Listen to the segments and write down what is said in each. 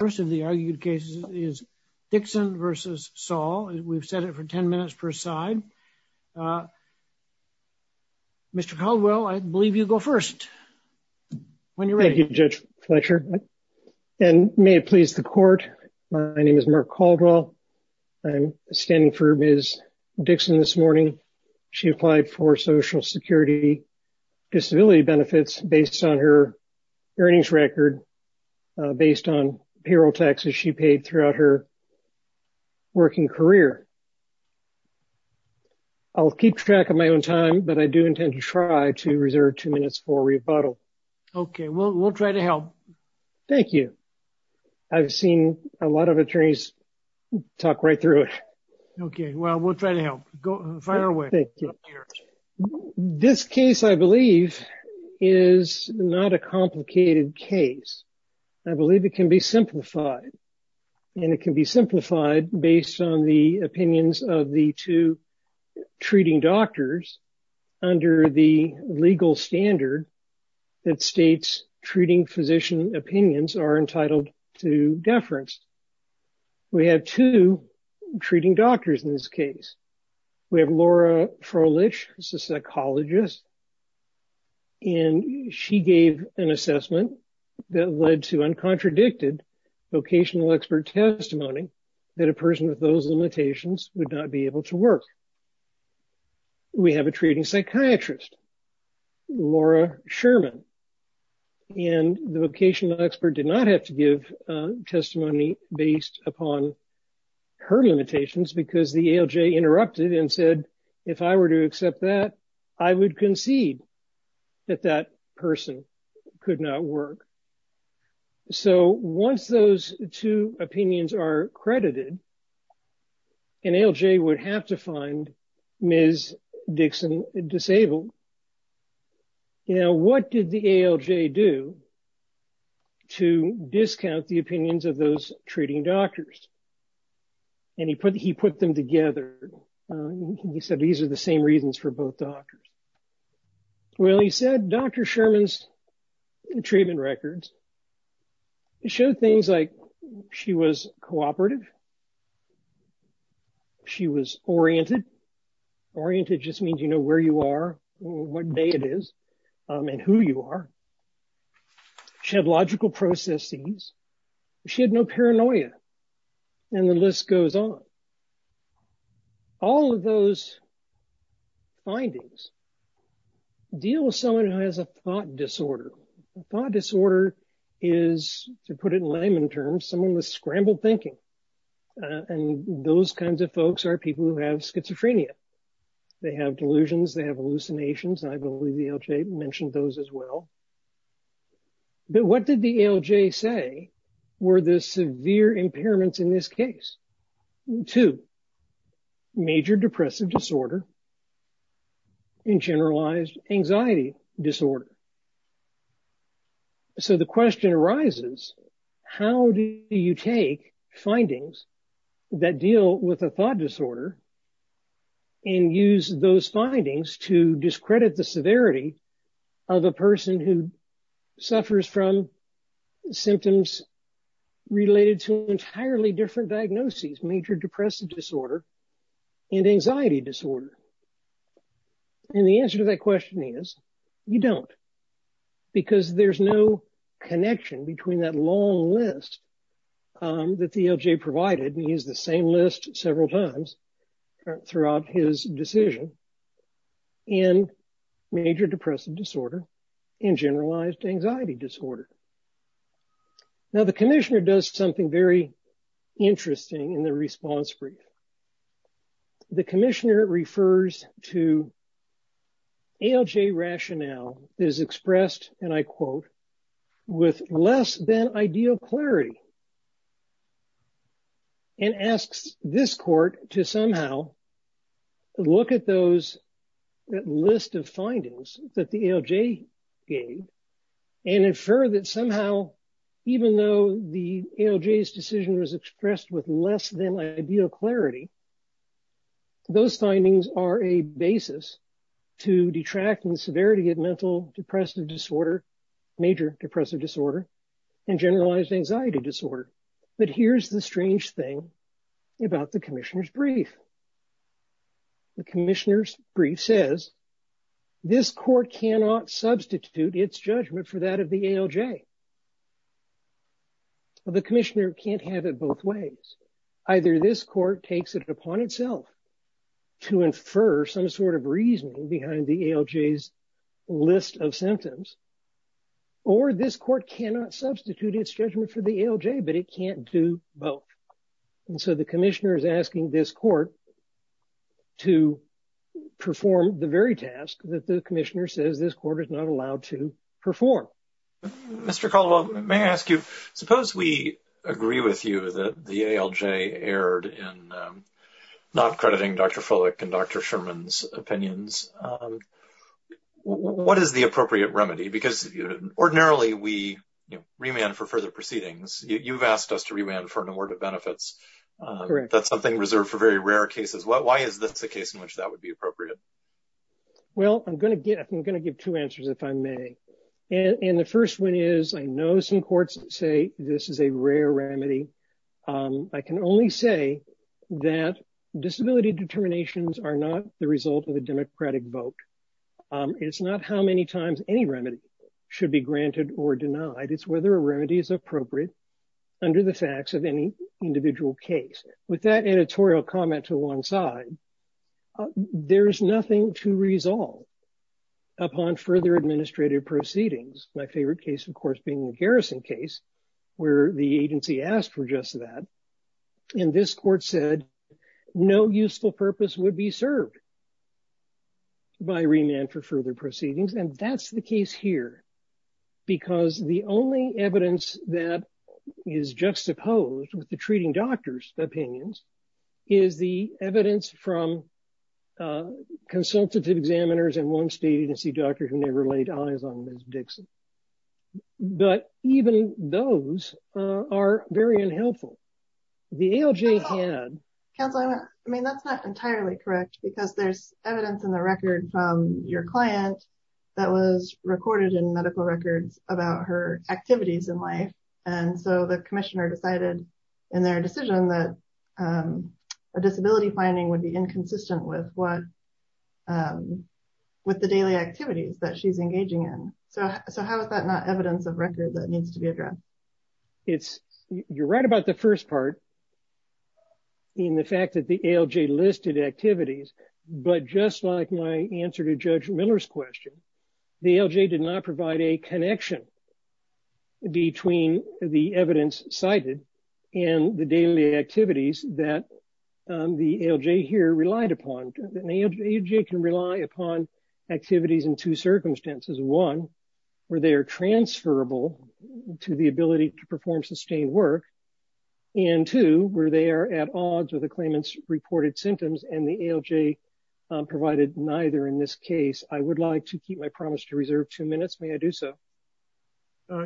The first of the argued cases is Dickson v. Saul. We've set it for 10 minutes per side. Mr. Caldwell, I believe you go first. Thank you, Judge Fletcher. And may it please the court, my name is Mark Caldwell. I'm standing for Ms. Dickson this morning. She applied for Social Security disability benefits based on her earnings record, based on payroll taxes she paid throughout her working career. I'll keep track of my own time, but I do intend to try to reserve two minutes for rebuttal. Okay, we'll try to help. Thank you. I've seen a lot of attorneys talk right through it. Okay, well, we'll try to help. Go find our way. This case, I believe, is not a complicated case. I believe it can be simplified. And it can be simplified based on the opinions of the two treating doctors under the legal standard that states treating physician opinions are entitled to deference. We have two treating doctors in this case. We have Laura Froelich, a psychologist. And she gave an assessment that led to uncontradicted vocational expert testimony that a person with those limitations would not be able to work. We have a treating psychiatrist, Laura Sherman. And the vocational expert did not have to give testimony based upon her limitations because the ALJ interrupted and said, if I were to accept that, I would concede that that person could not work. So once those two opinions are credited, an ALJ would have to find Ms. Dixon disabled. Now, what did the ALJ do to discount the opinions of those treating doctors? And he put them together. He said, these are the same reasons for both doctors. Well, he said, Dr. Sherman's treatment records show things like she was cooperative. She was oriented. Oriented just means, you know, where you are, what day it is, and who you are. She had logical processes. She had no paranoia. And the list goes on. All of those findings deal with someone who has a thought disorder. A thought disorder is, to put it in layman terms, someone with scrambled thinking. And those kinds of folks are people who have schizophrenia. They have delusions. They have hallucinations. I believe the ALJ mentioned those as well. But what did the ALJ say were the severe impairments in this case? Two, major depressive disorder, and generalized anxiety disorder. So the question arises, how do you take findings that deal with a thought disorder and use those findings to discredit the severity of a person who suffers from symptoms related to entirely different diagnoses, major depressive disorder and anxiety disorder? And the answer to that question is, you don't. Because there's no connection between that long list that the ALJ provided. He used the same list several times throughout his decision in major depressive disorder and generalized anxiety disorder. The commissioner does something very interesting in the response brief. The commissioner refers to ALJ rationale is expressed, and I quote, with less than ideal clarity. And asks this court to somehow look at those list of findings that the ALJ gave and infer that somehow, even though the ALJ's decision was expressed with less than ideal clarity, those findings are a basis to detract from the severity of mental depressive disorder, major depressive disorder, and generalized anxiety disorder. But here's the strange thing about the commissioner's brief. The commissioner's brief says, this court cannot substitute its judgment for that of the ALJ. The commissioner can't have it both ways. Either this court takes it upon itself to infer some sort of reasoning behind the ALJ's list of symptoms, or this court cannot substitute its judgment for the ALJ, but it can't do both. And so the commissioner is asking this that the commissioner says this court is not allowed to perform. Mr. Caldwell, may I ask you, suppose we agree with you that the ALJ erred in not crediting Dr. Folek and Dr. Sherman's opinions. What is the appropriate remedy? Because ordinarily we remand for further proceedings. You've asked us to remand for an award of benefits. That's something reserved for very rare cases. Why is this a case in which would be appropriate? Well, I'm going to give two answers if I may. And the first one is, I know some courts say this is a rare remedy. I can only say that disability determinations are not the result of a democratic vote. It's not how many times any remedy should be granted or denied. It's whether a remedy is appropriate under the facts of any individual case. With that editorial comment to one side, there is nothing to resolve upon further administrative proceedings. My favorite case, of course, being the garrison case where the agency asked for just that. And this court said no useful purpose would be served by remand for further proceedings. And that's the case here because the only evidence that is juxtaposed with the treating doctor's opinions is the evidence from consultative examiners and one state agency doctor who never laid eyes on Ms. Dixon. But even those are very unhelpful. The ALJ had... Counsel, I mean, that's not entirely correct because there's evidence in the record from your client that was recorded in medical records about her activities in life. And so the a disability finding would be inconsistent with the daily activities that she's engaging in. So how is that not evidence of record that needs to be addressed? It's... You're right about the first part in the fact that the ALJ listed activities, but just like my answer to Judge Miller's question, the ALJ did not provide a connection between the evidence cited and the daily activities that the ALJ here relied upon. The ALJ can rely upon activities in two circumstances. One, where they are transferable to the ability to perform sustained work. And two, where they are at odds with the claimant's reported symptoms and the ALJ provided neither in this case. I would like to keep my promise to reserve two minutes. May I do so?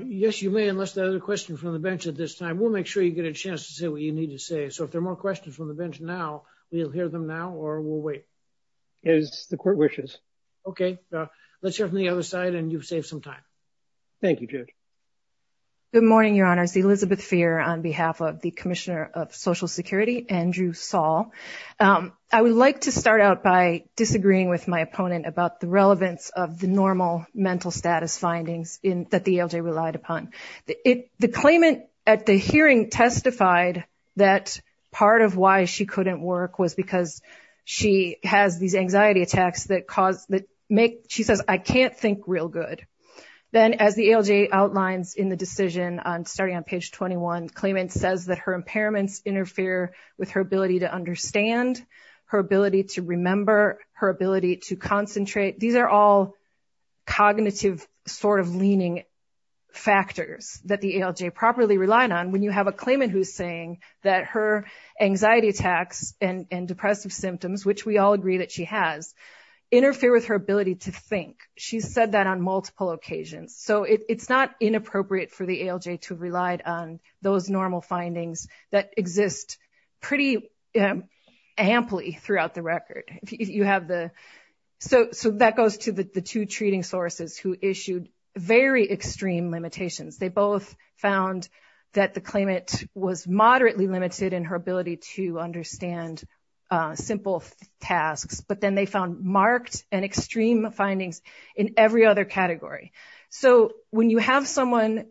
Yes, you may, unless there are other questions from the bench at this time. We'll make sure you get a chance to say what you need to say. So if there are more questions from the bench now, we'll hear them now or we'll wait. As the court wishes. Okay. Let's hear from the other side and you've saved some time. Thank you, Judge. Good morning, Your Honors. Elizabeth Feer on behalf of the Commissioner of Social Security, Andrew Saul. I would like to start out by disagreeing with my opponent about the relevance of the normal mental status findings that the ALJ relied upon. The claimant at the hearing testified that part of why she couldn't work was because she has these anxiety attacks that cause, that make, she says, I can't think real good. Then as the ALJ outlines in the decision on starting on page 21, claimant says that her impairments interfere with her ability to cognitive sort of leaning factors that the ALJ properly relied on. When you have a claimant who's saying that her anxiety attacks and depressive symptoms, which we all agree that she has, interfere with her ability to think. She's said that on multiple occasions. So it's not inappropriate for the ALJ to rely on those normal findings that exist pretty amply throughout the two treating sources who issued very extreme limitations. They both found that the claimant was moderately limited in her ability to understand simple tasks, but then they found marked and extreme findings in every other category. So when you have someone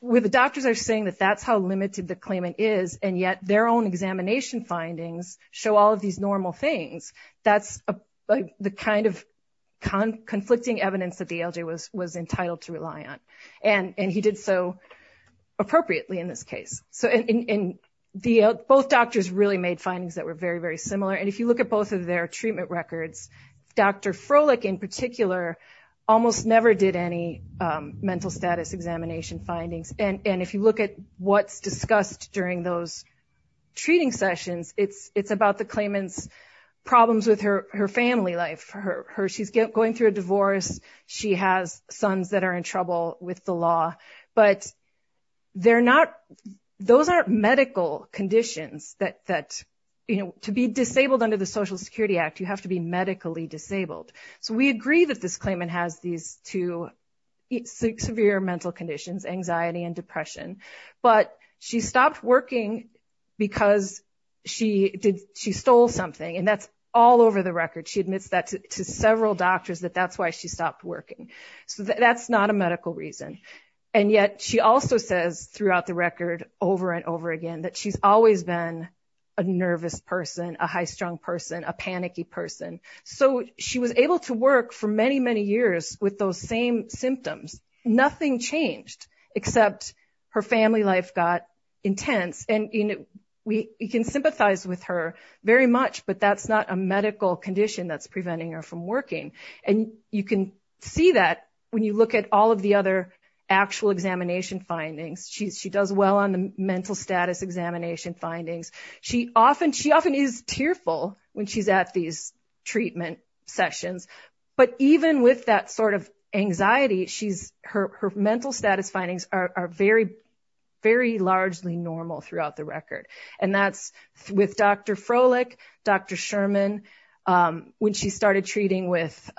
where the doctors are saying that that's how limited the claimant is, and yet their own examination findings show all of these normal things, that's the kind of conflicting evidence that the ALJ was entitled to rely on. And he did so appropriately in this case. So both doctors really made findings that were very, very similar. And if you look at both of their treatment records, Dr. Froelich in particular almost never did any mental status examination findings. And if you at what's discussed during those treating sessions, it's about the claimant's problems with her family life. She's going through a divorce. She has sons that are in trouble with the law. But those aren't medical conditions. To be disabled under the Social Security Act, you have to be medically disabled. So we agree that this claimant has these two severe mental conditions, anxiety and depression. But she stopped working because she stole something. And that's all over the record. She admits that to several doctors that that's why she stopped working. So that's not a medical reason. And yet she also says throughout the record over and over again that she's always been a nervous person, a high-strung person, a panicky person. So she was able to work for many, many years with those same symptoms. Nothing changed except her family life got intense. And we can sympathize with her very much, but that's not a medical condition that's preventing her from working. And you can see that when you look at all of the other actual examination findings. She does well on the mental status examination findings. She often is tearful when she's at these treatment sessions. But even with that sort of anxiety, her mental status findings are very largely normal throughout the record. And that's with Dr. Froelich, Dr. Sherman, when she started treating with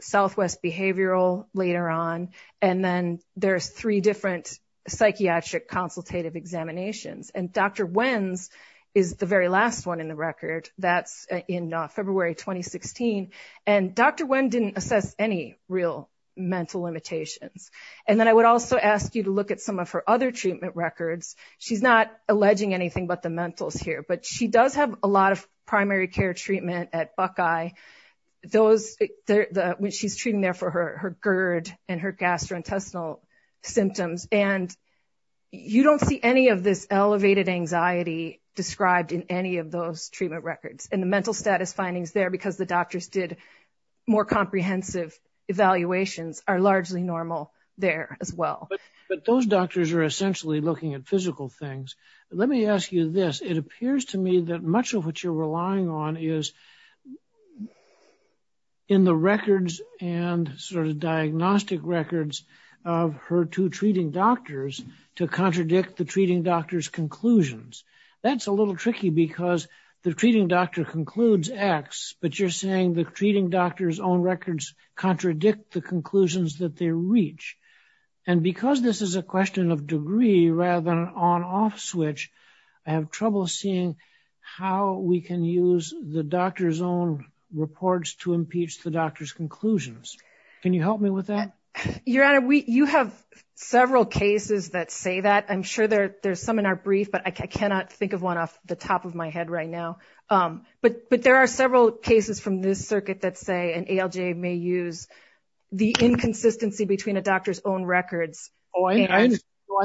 Southwest Behavioral later on. And then there's three different psychiatric consultative examinations. And Dr. Wenz is the very last one in the record. That's in February 2016. And Dr. Wenz didn't assess any real mental limitations. And then I would also ask you to look at some of her other treatment records. She's not alleging anything but the mentals here, but she does have a lot of primary care treatment at Buckeye. When she's treating there for her gastrointestinal symptoms. And you don't see any of this elevated anxiety described in any of those treatment records. And the mental status findings there because the doctors did more comprehensive evaluations are largely normal there as well. But those doctors are essentially looking at physical things. Let me ask you this. It appears to me that much of what you're relying on is in the records and sort of diagnostic records of her two treating doctors to contradict the treating doctor's conclusions. That's a little tricky because the treating doctor concludes X, but you're saying the treating doctor's own records contradict the conclusions that they reach. And because this is a question of degree rather than an on-off switch, I have trouble seeing how we can use the doctor's own reports to impeach the doctor's conclusions. Can you help me with that? Your Honor, you have several cases that say that. I'm sure there's some in our brief, but I cannot think of one off the top of my head right now. But there are several cases from this circuit that say an ALJ may use the inconsistency between a doctor's own records. Oh, I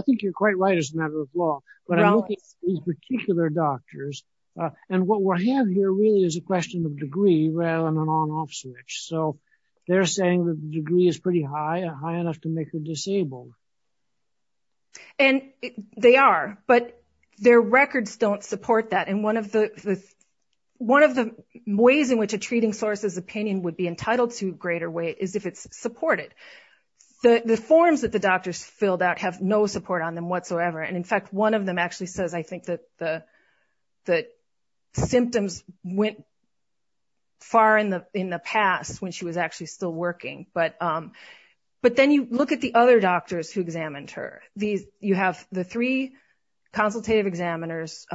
think you're quite right as a matter of law. But I'm looking at these particular doctors, and what we have here really is a question of degree rather than an on-off switch. So they're saying the degree is pretty high, high enough to make her disabled. And they are, but their records don't support that. And one of the ways in which a treating source's opinion would be entitled to greater weight is if it's supported. The forms that the doctors filled out have no support on them whatsoever. And in fact, one of them actually says I think that the symptoms went far in the past when she was actually still working. But then you look at the other doctors who examined her. You have the three consultative examiners,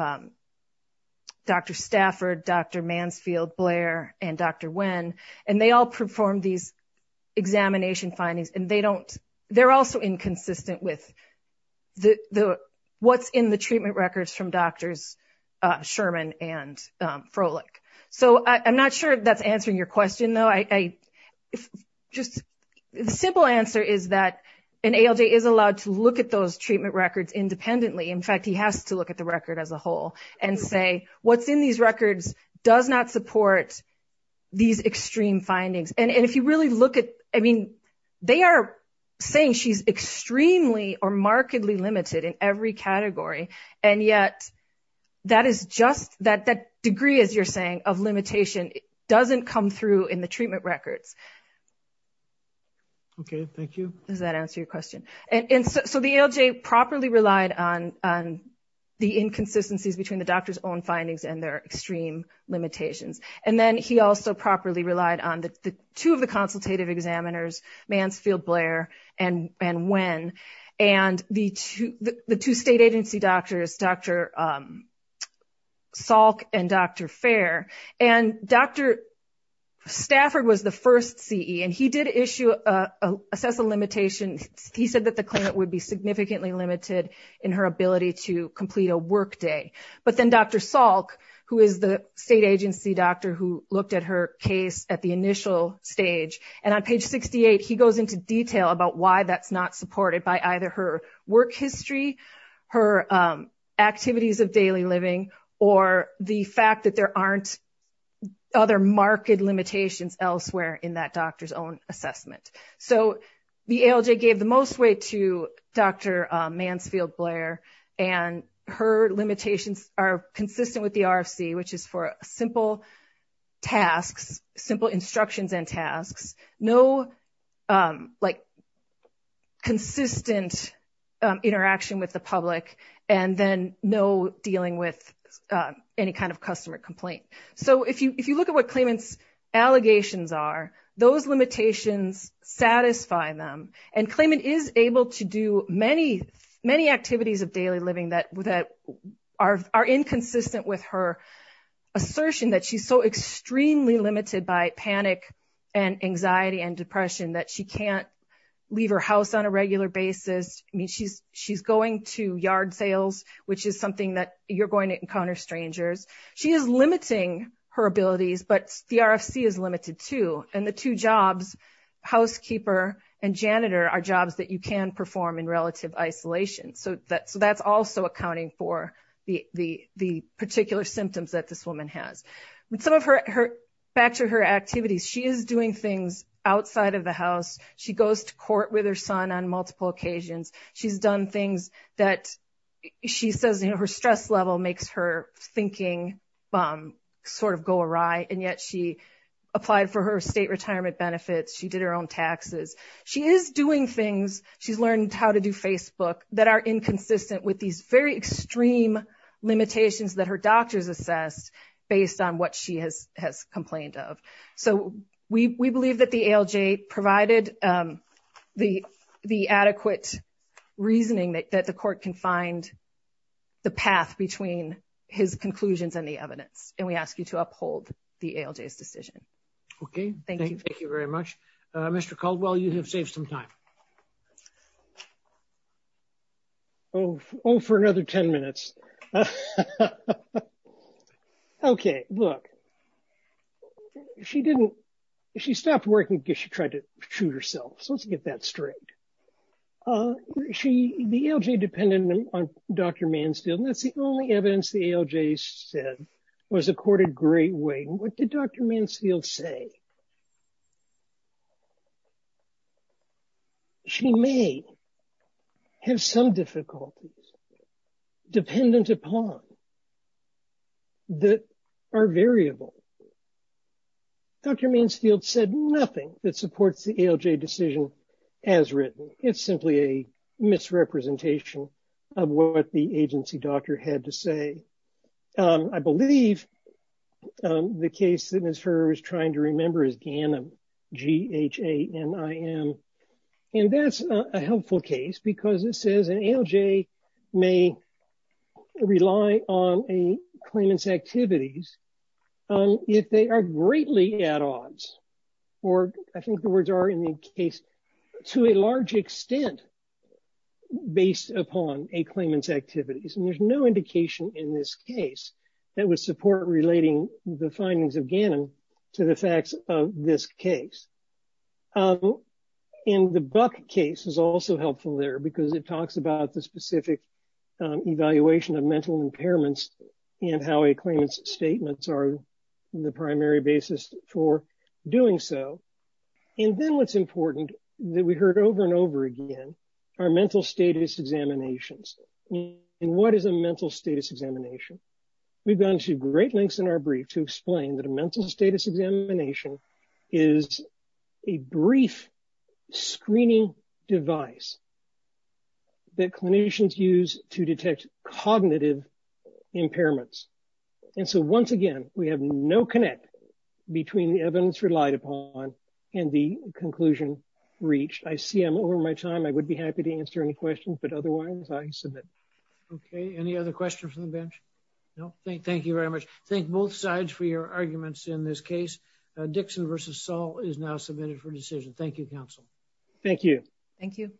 Dr. Stafford, Dr. Mansfield, Blair, and Dr. Nguyen, and they all performed these consistent with what's in the treatment records from Drs. Sherman and Froelich. So I'm not sure if that's answering your question, though. The simple answer is that an ALJ is allowed to look at those treatment records independently. In fact, he has to look at the record as a whole and say what's in these records does not support these extreme findings. And if you really look at, I mean, they are saying she's extremely or markedly limited in every category. And yet that is just that degree, as you're saying, of limitation doesn't come through in the treatment records. Okay, thank you. Does that answer your question? And so the ALJ properly relied on the inconsistencies between the doctor's own findings and their extreme limitations. And then he also properly relied on the two of the consultative examiners, Mansfield, Blair, and Nguyen, and the two state agency doctors, Dr. Salk and Dr. Fair. And Dr. Stafford was the first CE, and he did assess a limitation. He said that the claimant would be significantly limited in her ability to complete a workday. But then Dr. Salk, who is the state agency doctor who looked at her case at the initial stage, and on page 68, he goes into detail about why that's not supported by either her work history, her activities of daily living, or the fact that there aren't other marked limitations elsewhere in that doctor's own assessment. So the ALJ gave the most weight to Dr. Mansfield-Blair, and her limitations are consistent with the RFC, which is for simple tasks, simple instructions and tasks, no consistent interaction with the public, and then no dealing with any kind of customer complaint. So if you look at what claimant's allegations are, those limitations satisfy them. And claimant is able to do many, many activities of daily living that are inconsistent with her assertion that she's so extremely limited by panic and anxiety and depression that she can't leave her house on a regular basis. I mean, she's going to yard sales, which is something that you're going to encounter strangers. She is limiting her abilities, but the RFC is limited too. And the two jobs, housekeeper and janitor, are jobs that you can perform in relative isolation. So that's also accounting for the particular symptoms that this woman has. Back to her activities, she is doing things outside of the house. She goes to court with her son on multiple occasions. She's done things that she says her stress level makes her thinking sort of go awry, and yet she applied for her state retirement benefits. She did her own taxes. She is doing things, she's learned how to do Facebook, that are inconsistent with these very extreme limitations that her doctors assessed based on what she has complained of. So we believe that the ALJ provided the adequate reasoning that the court can find the path between his and we ask you to uphold the ALJ's decision. Okay. Thank you. Thank you very much. Mr. Caldwell, you have saved some time. Oh, for another 10 minutes. Okay. Look, she stopped working because she tried to shoot herself. So let's get that straight. She, the ALJ depended on Dr. Mansfield, and that's the only evidence the ALJ said was accorded great weight. What did Dr. Mansfield say? She may have some difficulties dependent upon that are variable. Dr. Mansfield said nothing that supports the ALJ decision as written. It's simply a misrepresentation of what the agency doctor had to say. I believe the case that Ms. Furrer was trying to remember is Ghanim, G-H-A-N-I-M. And that's a helpful case because it says an ALJ may rely on a claimant's activities if they are greatly at odds, or I think the words are in the case, to a large extent based upon a claimant's activities. And there's no indication in this case that would support relating the findings of Ghanim to the facts of this case. And the Buck case is also helpful there because it talks about the specific evaluation of mental impairments and how a claimant's statements are the primary basis for doing so. And then what's important that we heard over and over again are mental status examinations. And what is a mental status examination? We've gone to great lengths in our brief to explain that a mental status examination is a brief screening device that clinicians use to detect cognitive impairments. And so once again, we have no connect between the evidence relied upon and the conclusion reached. I see I'm over my time. I would be happy to answer any questions, but otherwise I submit. Okay. Any other questions from the bench? No, thank you very much. Thank both sides for your arguments in this case. Dixon versus Saul is now submitted for decision. Thank you, counsel. Thank you. Thank you.